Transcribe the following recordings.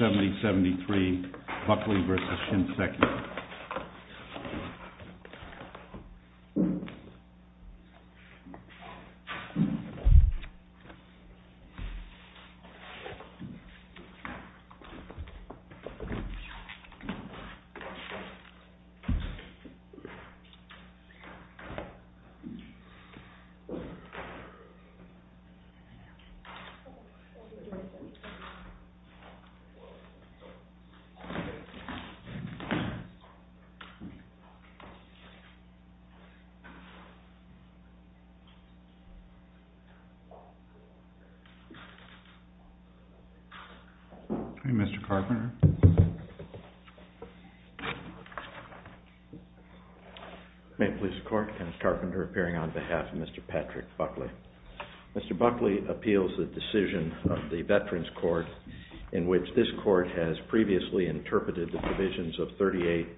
70-73 Buckley v. Shinseki Mr. Carpenter May it please the court, Kenneth Carpenter appearing on behalf of Mr. Patrick Buckley Mr. Buckley appeals the decision of the Veterans Court in which this court has previously interpreted the provisions of 38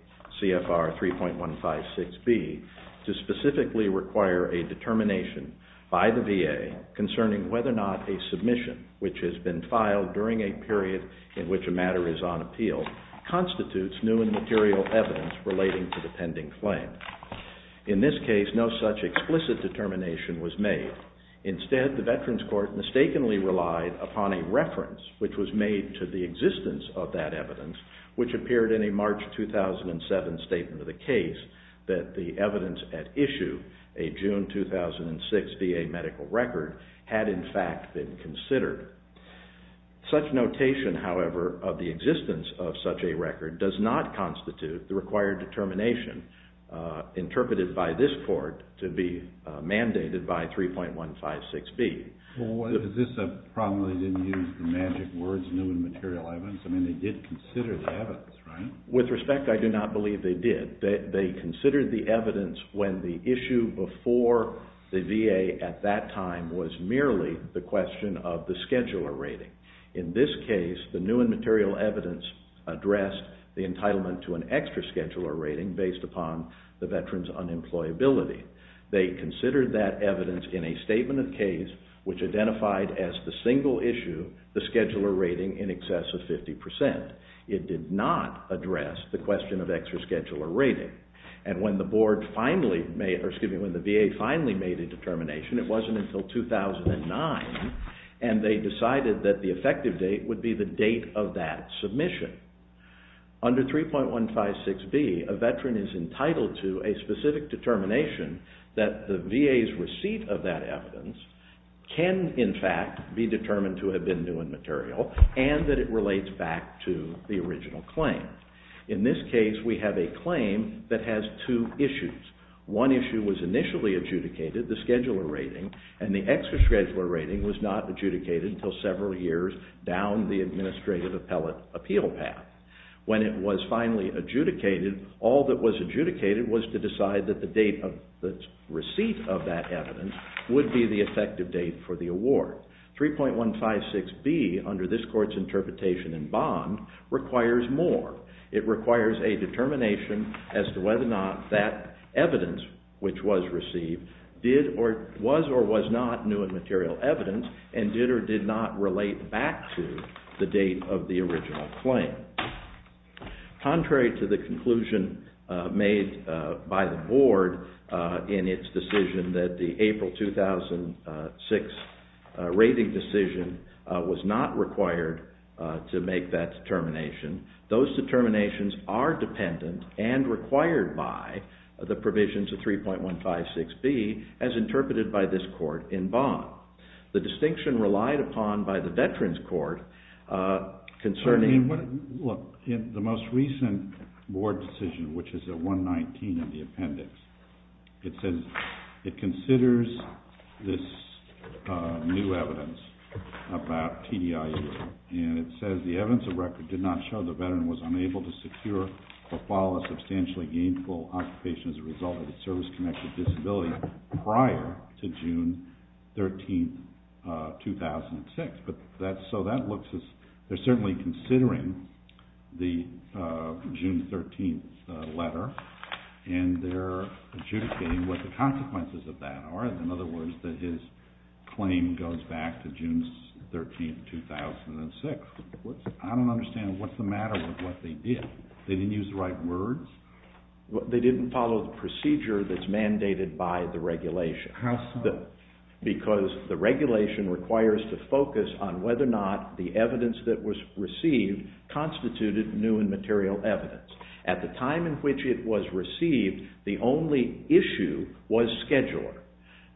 CFR 3.156B to specifically require a determination by the VA concerning whether or not a submission which has been filed during a period in which a matter is on appeal constitutes new and material evidence relating to the pending claim. In this case, no such explicit determination was made. Instead, the Veterans Court mistakenly relied upon a reference which was made to the existence of that evidence which appeared in a March 2007 statement of the case that the evidence at issue, a June 2006 VA medical record had in fact been considered. Such notation, however, of the existence of such a record does not constitute the required determination interpreted by this court to be mandated by 3.156B. Well, is this a problem they didn't use the magic words new and material evidence? I mean they did consider the evidence, right? With respect, I do not believe they did. They considered the evidence when the issue before the VA at that time was merely the question of the scheduler rating. In this case, the new and material evidence addressed the entitlement to an extra scheduler rating based upon the which identified as the single issue the scheduler rating in excess of 50%. It did not address the question of extra scheduler rating. And when the VA finally made a determination, it wasn't until 2009 and they decided that the effective date would be the date of that submission. Under 3.156B, a Veteran is entitled to a specific determination that the VA's receipt of that can, in fact, be determined to have been new and material and that it relates back to the original claim. In this case, we have a claim that has two issues. One issue was initially adjudicated, the scheduler rating, and the extra scheduler rating was not adjudicated until several years down the administrative appellate appeal path. When it was finally adjudicated, all that was adjudicated was to decide that the date of the receipt of that evidence would be the effective date for the award. 3.156B, under this court's interpretation in bond, requires more. It requires a determination as to whether or not that evidence which was received was or was not new and material evidence and did or did not relate back to the date of the original claim. Contrary to the conclusion made by the Board in its decision that the April 2006 rating decision was not required to make that determination, those determinations are dependent and required by the provisions of 3.156B as interpreted by this court in bond. The distinction relied upon by the Veterans Court concerning... Look, in the most recent Board decision, which is at 119 in the appendix, it says it considers this new evidence about TDIU, and it says the evidence of record did not show the Veteran was unable to secure or follow a substantially gainful occupation as a result of a service-connected disability prior to June 13, 2006. So that looks as... They're certainly considering the June 13th letter, and they're adjudicating what the consequences of that are. In other words, that his claim goes back to June 13, 2006. I don't understand. What's the matter with what they did? They didn't use the right words? They didn't follow the procedure that's mandated by the regulation. How so? Further, because the regulation requires to focus on whether or not the evidence that was received constituted new and material evidence. At the time in which it was received, the only issue was scheduler.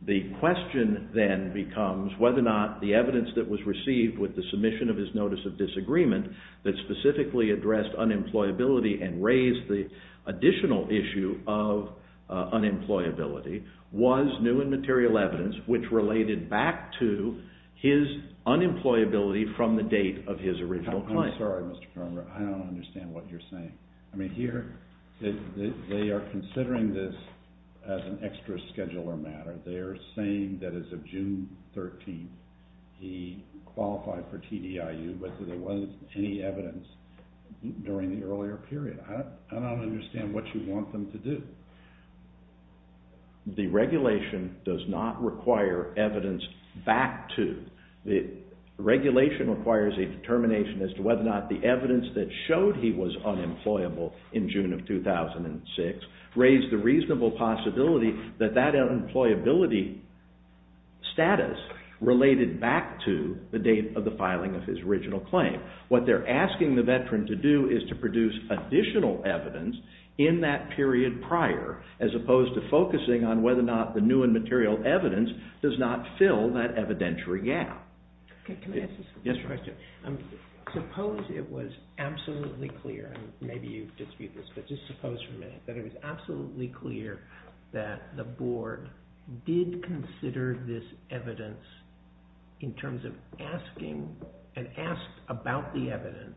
The question then becomes whether or not the evidence that was received with the submission of his notice of disagreement that specifically addressed unemployability and raised the additional issue of unemployability was new and material evidence, which related back to his unemployability from the date of his original claim. I'm sorry, Mr. Kroemer. I don't understand what you're saying. I mean, here, they are considering this as an extra scheduler matter. They are saying that as of June 13th, he qualified for TDIU, but there wasn't any evidence during the earlier period. I don't understand what you want them to do. The regulation does not require evidence back to. The regulation requires a determination as to whether or not the evidence that showed he was unemployable in June of 2006 raised the reasonable possibility that that unemployability status related back to the date of the filing of his original claim. What they are asking the veteran to do is to produce additional evidence in that period prior as opposed to focusing on whether or not the new and material evidence does not fill that evidentiary gap. Can I ask you a question? Suppose it was absolutely clear, and maybe you dispute this, but just suppose for a minute that it was absolutely clear that the board did consider this evidence in terms of asking, and asked about the evidence,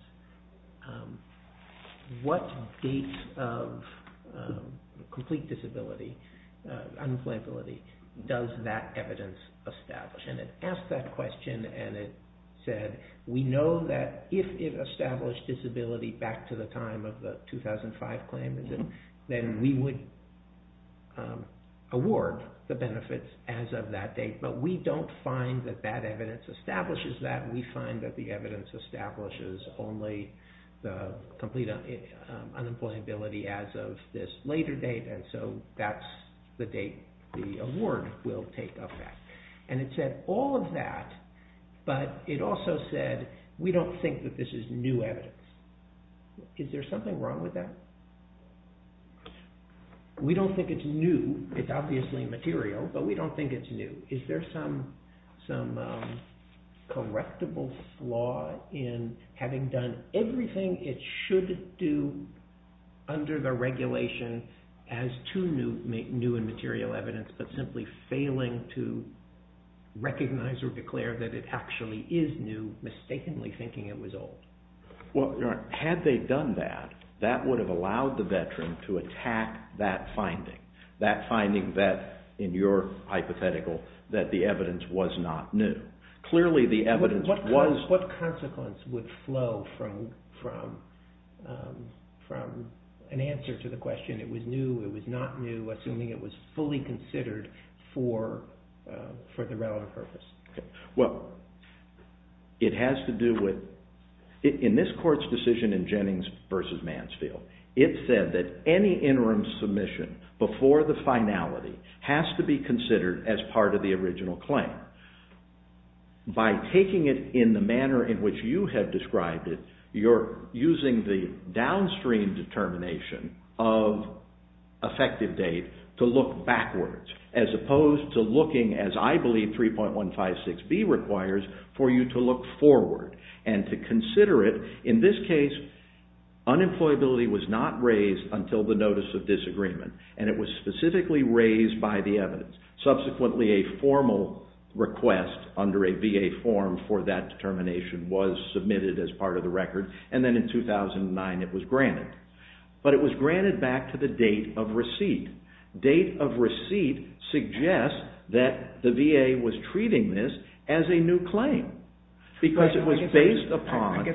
what dates of complete disability, unemployability, does that evidence establish? And it asked that question and it said, we know that if it established disability back to the time of the 2005 claim, then we would award the award. We find that that evidence establishes that. We find that the evidence establishes only the complete unemployability as of this later date, and so that's the date the award will take effect. And it said all of that, but it also said, we don't think that this is new evidence. Is there something wrong with that? We don't think it's new. It's obviously material, but we don't think it's new. Is there some correctable flaw in having done everything it should do under the regulation as to new and material evidence, but simply failing to recognize or declare that it actually is new, mistakenly thinking it was old? Had they done that, that would have allowed the veteran to attack that finding, that finding that, in your hypothetical, that the evidence was not new. Clearly, the evidence was... What consequence would flow from an answer to the question, it was new, it was not new, assuming it was fully considered for the relevant purpose? In this court's decision in Jennings v. Mansfield, it said that any interim submission before the finality has to be considered as part of the original claim. By taking it in the manner in which you have described it, you're using the downstream determination of effective date to look backwards, as opposed to looking, as I believe 3.156B requires, for you to look forward and to consider it. In this case, unemployability was not raised until the notice of disagreement, and it was specifically raised by the evidence. Subsequently, a formal request under a VA form for that determination was submitted as part of the record, and then in 2009, it was granted. But it was granted back to the date of receipt. Date of receipt suggests that the VA was treating this as a new claim, because it was based upon...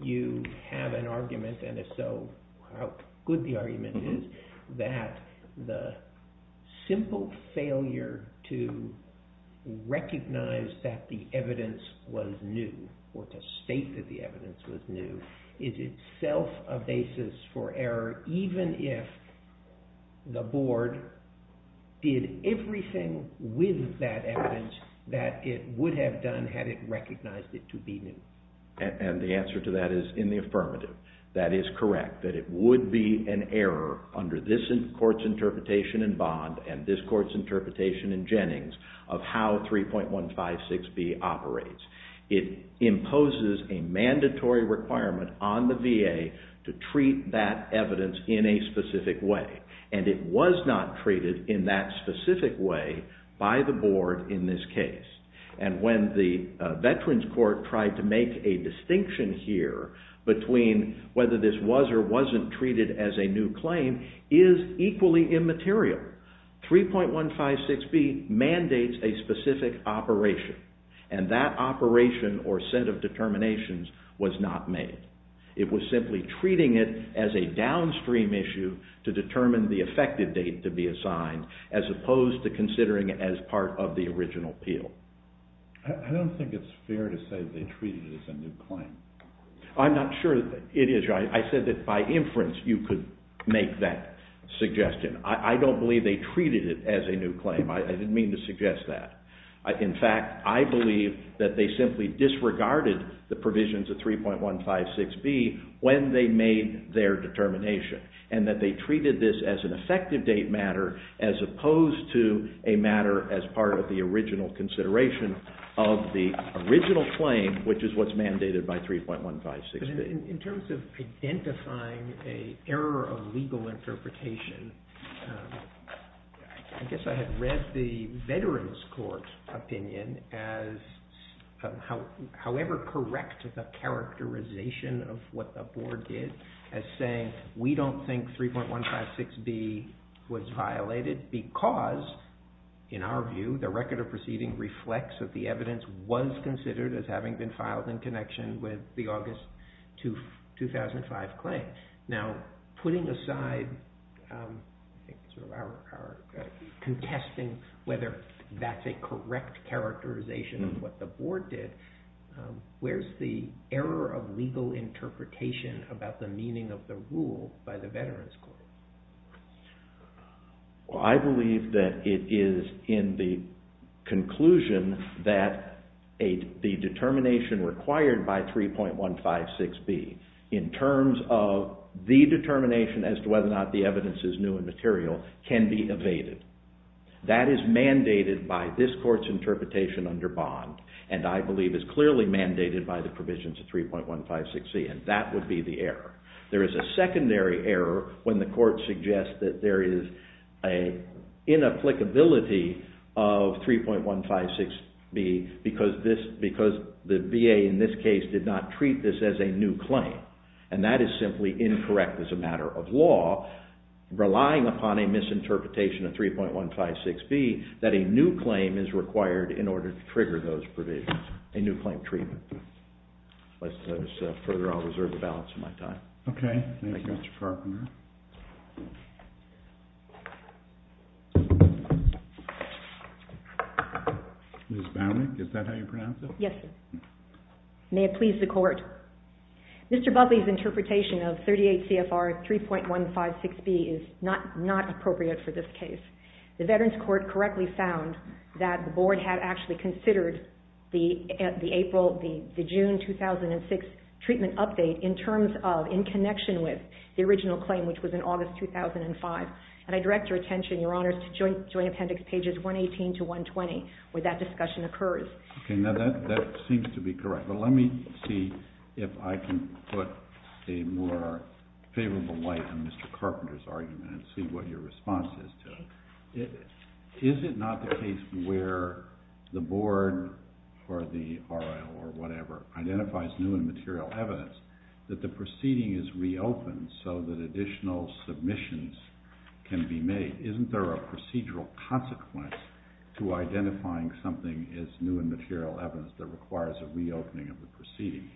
You have an argument, and if so, how good the argument is, that the simple failure to recognize that the evidence was new, or to state that the evidence was new, is itself a basis for error, even if the board did everything with that evidence that it would have done had it recognized it to be new? And the answer to that is in the affirmative. That is correct, that it would be an error under this court's interpretation in Bond, and this court's interpretation in Jennings, of how 3.156B operates. It imposes a mandatory requirement on the VA to treat that evidence in a specific way, and it was not treated in that specific way by the board in this case. The way that the Veterans Court tried to make a distinction here between whether this was or wasn't treated as a new claim is equally immaterial. 3.156B mandates a specific operation, and that operation or set of determinations was not made. It was simply treating it as a downstream issue to determine the effective date to be assigned, as opposed to considering it as part of the original appeal. I don't think it's fair to say they treated it as a new claim. I'm not sure that it is. I said that by inference you could make that suggestion. I don't believe they treated it as a new claim. I didn't mean to suggest that. In fact, I believe that they simply disregarded the provisions of 3.156B when they made their determination, and that they treated this as an effective date matter, as opposed to a matter as part of the original consideration of the original claim, which is what's mandated by 3.156B. In terms of identifying an error of legal interpretation, I guess I had read the Veterans Court opinion as however correct the characterization of what the board did as saying, we don't think 3.156B was violated because, in our view, the record of proceeding reflects that the evidence was considered as having been filed in connection with the August 2005 claim. Putting aside our contesting whether that's a correct characterization of what the board did, where's the error of legal interpretation about the meaning of the rule by the Veterans Court? I believe that it is in the conclusion that the determination required by 3.156B, in terms of the determination as to whether or not the evidence is new and material, can be evaded. That is mandated by this court's interpretation under Bond, and I believe is clearly mandated by the provisions of 3.156C, and that would be the error. There is a secondary error when the court suggests that there is an inapplicability of 3.156B because the VA, in this case, did not treat this as a new claim, and that is simply incorrect as a matter of law, relying upon a misinterpretation of 3.156B, that a new claim is required in order to trigger those provisions, a new claim treatment. Further, I'll reserve the balance of my time. Okay. Thank you, Mr. Carpenter. Ms. Baumann, is that how you pronounce it? Yes, sir. May it please the court. Mr. Budley's interpretation of 38 CFR 3.156B is not new and not appropriate for this case. The Veterans Court correctly found that the board had actually considered the June 2006 treatment update in terms of, in connection with, the original claim, which was in August 2005, and I direct your attention, Your Honors, to Joint Appendix pages 118 to 120, where that discussion occurs. Okay. Now, that seems to be correct, but let me see if I can put a more favorable light on Mr. Carpenter's argument and see what your response is to it. Is it not the case where the board, or the RIO, or whatever, identifies new and material evidence that the proceeding is reopened so that additional submissions can be made? Isn't there a procedural consequence to identifying something as new and material evidence that requires a reopening of the proceeding?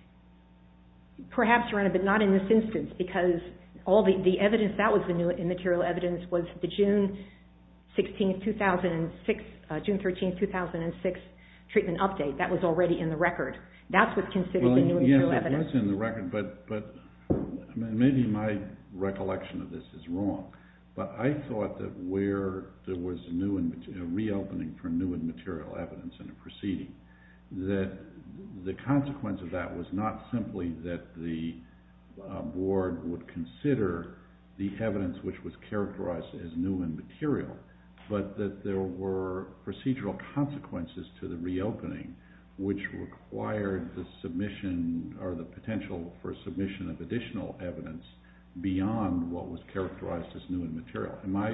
Perhaps, Your Honor, but not in this instance, because all the evidence that was the new and material evidence was the June 16, 2006, June 13, 2006, treatment update. That was already in the record. That's what's considered the new and material evidence. It was in the record, but maybe my recollection of this is wrong, but I thought that where there was a reopening for new and material evidence in a proceeding, that the consequence of that was not simply that the board would consider the evidence which was characterized as new and material, but that there were procedural consequences to the reopening which required the submission or the potential for submission of additional evidence beyond what was characterized as new and material. Am I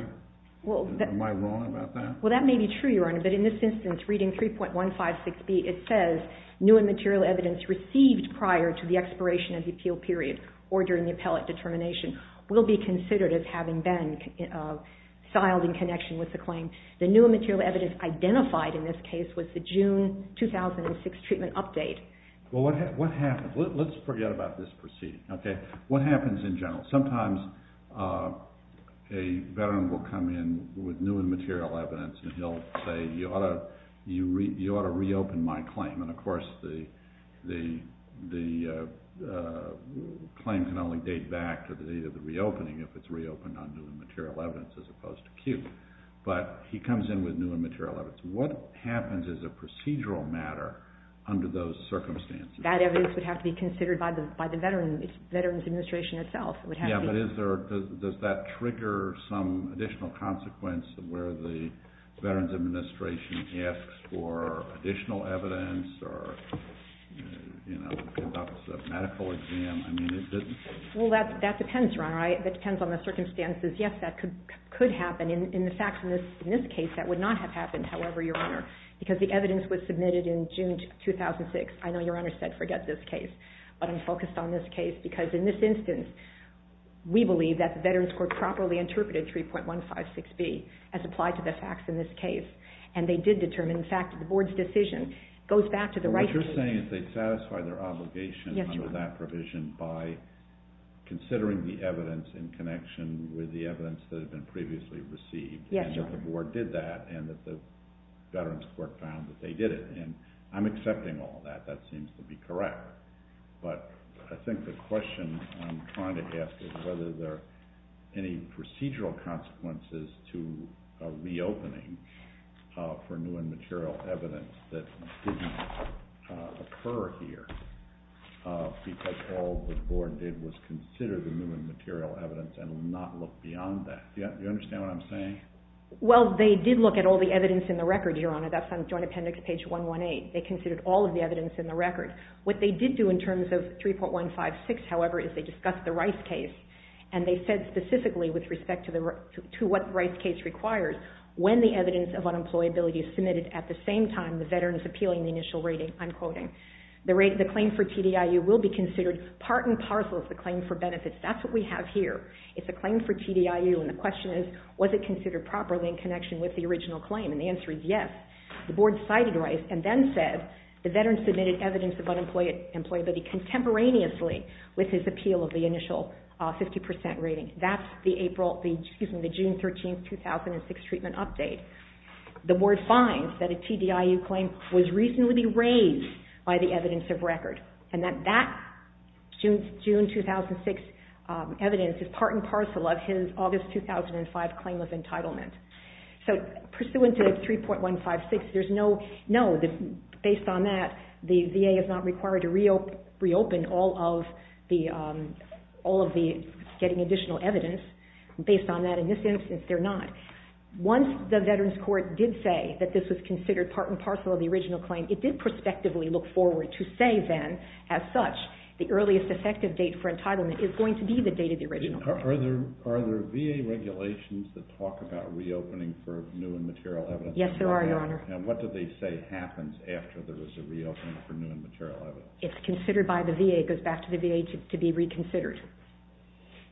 wrong about that? Well, that may be true, Your Honor, but in this instance, reading 3.156B, it says new and material evidence received prior to the expiration of the appeal period or during the appellate determination will be considered as having been filed in connection with the claim. The new and material evidence identified in this case was the June 2006 treatment update. Well, what happens? Let's forget about this proceeding. What happens in general? Sometimes a veteran will come in with new and material evidence and he'll say, you ought to reopen my claim, and of course the claim can only date back to the date of the reopening if it's reopened on new and material evidence as opposed to acute, but he comes in with new and material evidence. What happens as a procedural matter under those circumstances? That evidence would have to be considered by the veteran's administration itself. Yeah, but does that trigger some additional consequence where the veteran's administration asks for additional evidence or conducts a medical exam? Well, that depends, Your Honor. That depends on the circumstances. Yes, that could happen. In this case, that would not have happened, however, Your Honor, because the evidence was submitted in June 2006. I know Your Honor said forget this case, but I'm focused on this case because in this instance, we believe that the Veterans Court properly interpreted 3.156B as applied to the facts in this case, and they did determine, in fact, the Board's decision goes back to the right case. What you're saying is they satisfy their obligation under that provision by considering the evidence in connection with the evidence that had been previously received. Yes, Your Honor. And that the Board did that and that the Veterans Court found that they did it, and I'm accepting all that. That seems to be correct, but I think the question I'm trying to ask is whether there are any procedural consequences to a reopening for new and material evidence that didn't occur here because all the Board did was consider the new and material evidence and not look beyond that. Do you understand what I'm saying? Well, they did look at all the evidence in the record, Your Honor. That's on Joint Appendix page 118. They considered all of the evidence in the record. What they did do in terms of the Rice case, and they said specifically with respect to what the Rice case requires, when the evidence of unemployability is submitted at the same time the Veteran is appealing the initial rating, I'm quoting, the claim for TDIU will be considered part and parcel of the claim for benefits. That's what we have here. It's a claim for TDIU, and the question is was it considered properly in connection with the original claim, and the answer is yes. The Board cited Rice and then said the Veteran submitted evidence of unemployability contemporaneously with his appeal of the initial 50% rating. That's the June 13, 2006 treatment update. The Board finds that a TDIU claim was reasonably raised by the evidence of record, and that June 2006 evidence is part and parcel of his August 2005 claim of the TDIU claim. Once the Veterans Court did say that this was considered part and parcel of the original claim, it did prospectively look forward to say then, as such, the earliest effective date for entitlement is going to be the date of the original claim. Are there VA regulations that talk about reopening for new and material evidence? Yes, there are, Your Honor. And what do they say happens after there is a reopening for new and material evidence? It's considered by the VA. It goes back to the VA to be reconsidered.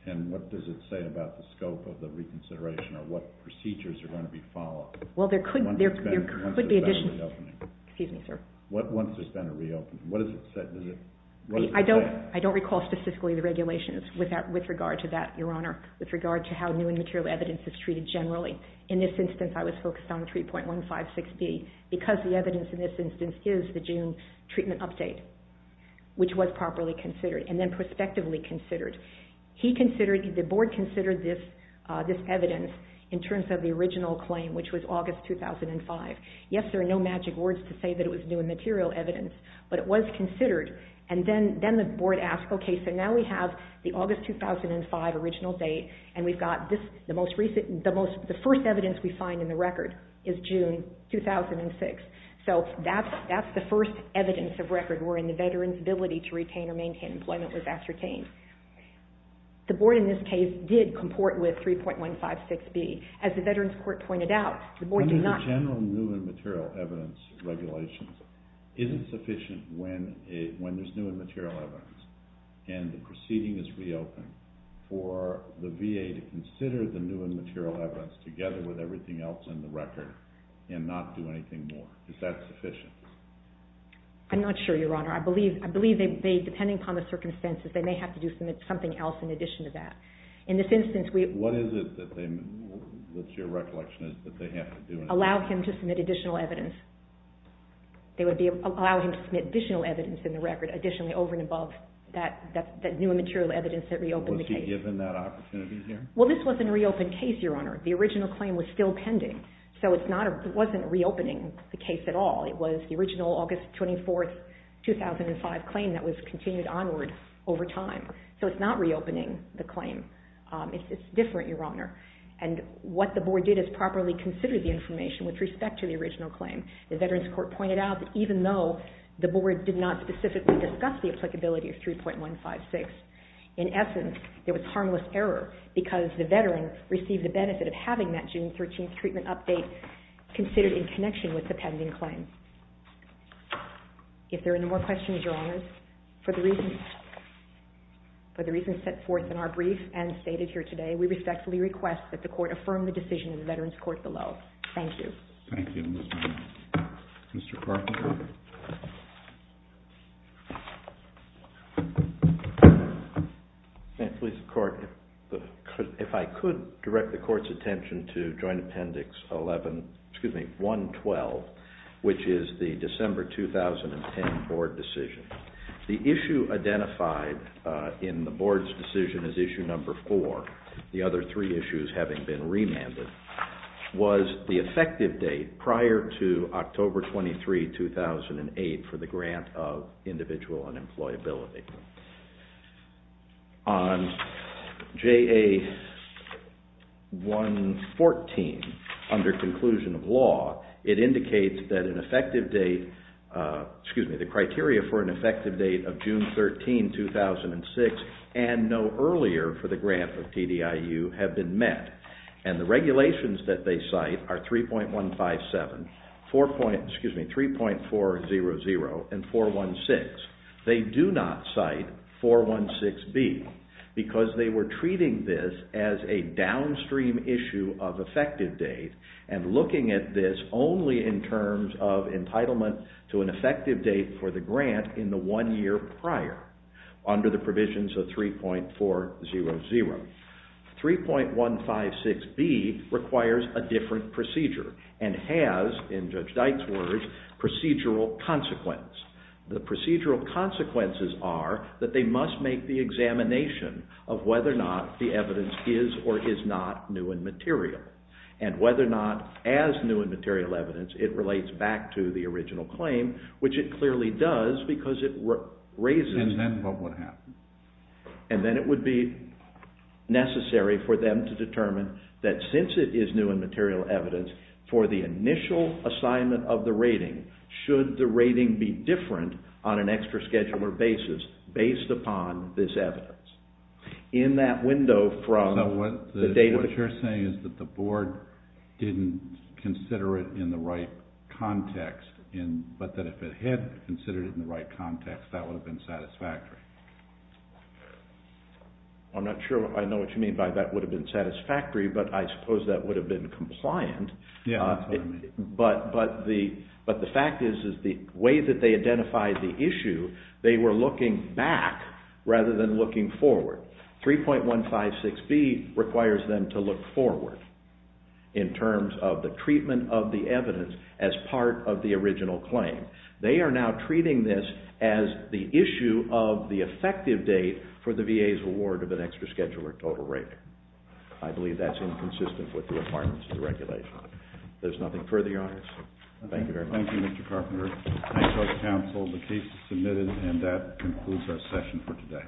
And what does it say about the scope of the reconsideration or what procedures are going to be followed? Well, there could be additional... Once there's been a reopening. Excuse me, sir. Once there's been a reopening, what does it say? I don't recall specifically the regulations with regard to that, Your Honor, with regard to how new and material evidence is treated generally. In this instance, I was focused on 3.156B because the evidence in this instance is the June treatment update, which was properly considered and then prospectively considered. The board considered this evidence in terms of the original claim, which was August 2005. Yes, there are no magic words to say that it was new and material evidence, but it was considered. And then the board asked, okay, so now we have the August 2005 original date and we've got this... The first evidence we find in the record is June 2006. So that's the first evidence of record wherein the veteran's ability to retain or maintain employment was ascertained. The board in this case did comport with 3.156B. As the Veterans Court pointed out, the board did not... Under the general new and material evidence regulations, is it sufficient when there's new and material evidence and the proceeding is reopened for the VA to consider the new and material evidence together with everything else in the record and not do anything more? Is that sufficient? I'm not sure, Your Honor. I believe they may, depending upon the circumstances, they may have to do something else in addition to that. In this instance, we... What is it that they... What's your recollection is that they have to do... Allow him to submit additional evidence. They would allow him to submit additional evidence in the record additionally over and above that new and material evidence that reopened the case. Was he given that opportunity here? Well, this wasn't a reopened case, Your Honor. The original claim was still pending. So it's not... It wasn't reopening the case at all. It was the original August 24, 2005 claim that was continued onward over time. So it's not reopening the claim. It's different, Your Honor. And what the board did is properly consider the information with respect to the applicability of 3.156. In essence, it was harmless error because the veteran received the benefit of having that June 13th treatment update considered in connection with the pending claim. If there are no more questions, Your Honors, for the reasons set forth in our brief and stated here today, we respectfully request that the Court affirm the decision in the Veterans Court below. Thank you. Thank you. Mr. Carpenter? If I could direct the Court's attention to Joint Appendix 11, excuse me, 112, which is the December 2010 board decision. The issue identified in the board's decision as issue number four, the other three issues having been remanded, was the effective date prior to October 23, 2008 for the grant of individual unemployability. On JA 114, under conclusion of law, it indicates that an effective date, excuse me, the criteria for an effective date of June 13, 2006 and no earlier for the grant of TDIU have been met. And the regulations that they cite are 3.157, excuse me, 3.400 and 416. They do not cite 416B because they were treating this as a downstream issue of effective date and looking at this only in the year prior under the provisions of 3.400. 3.156B requires a different procedure and has, in Judge Dyke's words, procedural consequence. The procedural consequences are that they must make the examination of whether or not the evidence is or is not new and material and whether or not as new and material evidence it relates back to the original claim, which it clearly does because it raises... And then what would happen? And then it would be necessary for them to determine that since it is new and material evidence, for the initial assignment of the rating, should the rating be different on an extra schedule or basis based upon this evidence. In that window from... So what you're saying is that the board didn't consider it in the right context, but that if it had considered it in the right context, that would have been satisfactory. I'm not sure if I know what you mean by that would have been satisfactory, but I suppose that would have been compliant. Yeah, that's what I mean. But the fact is, is the way that they identified the issue, they were looking back rather than looking forward. 3.156B requires them to look forward in terms of the treatment of the evidence as part of the original claim. They are now treating this as the issue of the effective date for the VA's award of an extra schedule or total rating. I believe that's inconsistent with the requirements of the regulation. There's nothing further on this. Thank you very much. Thank you, Mr. Carpenter. Thank you, Judge That concludes our session for today.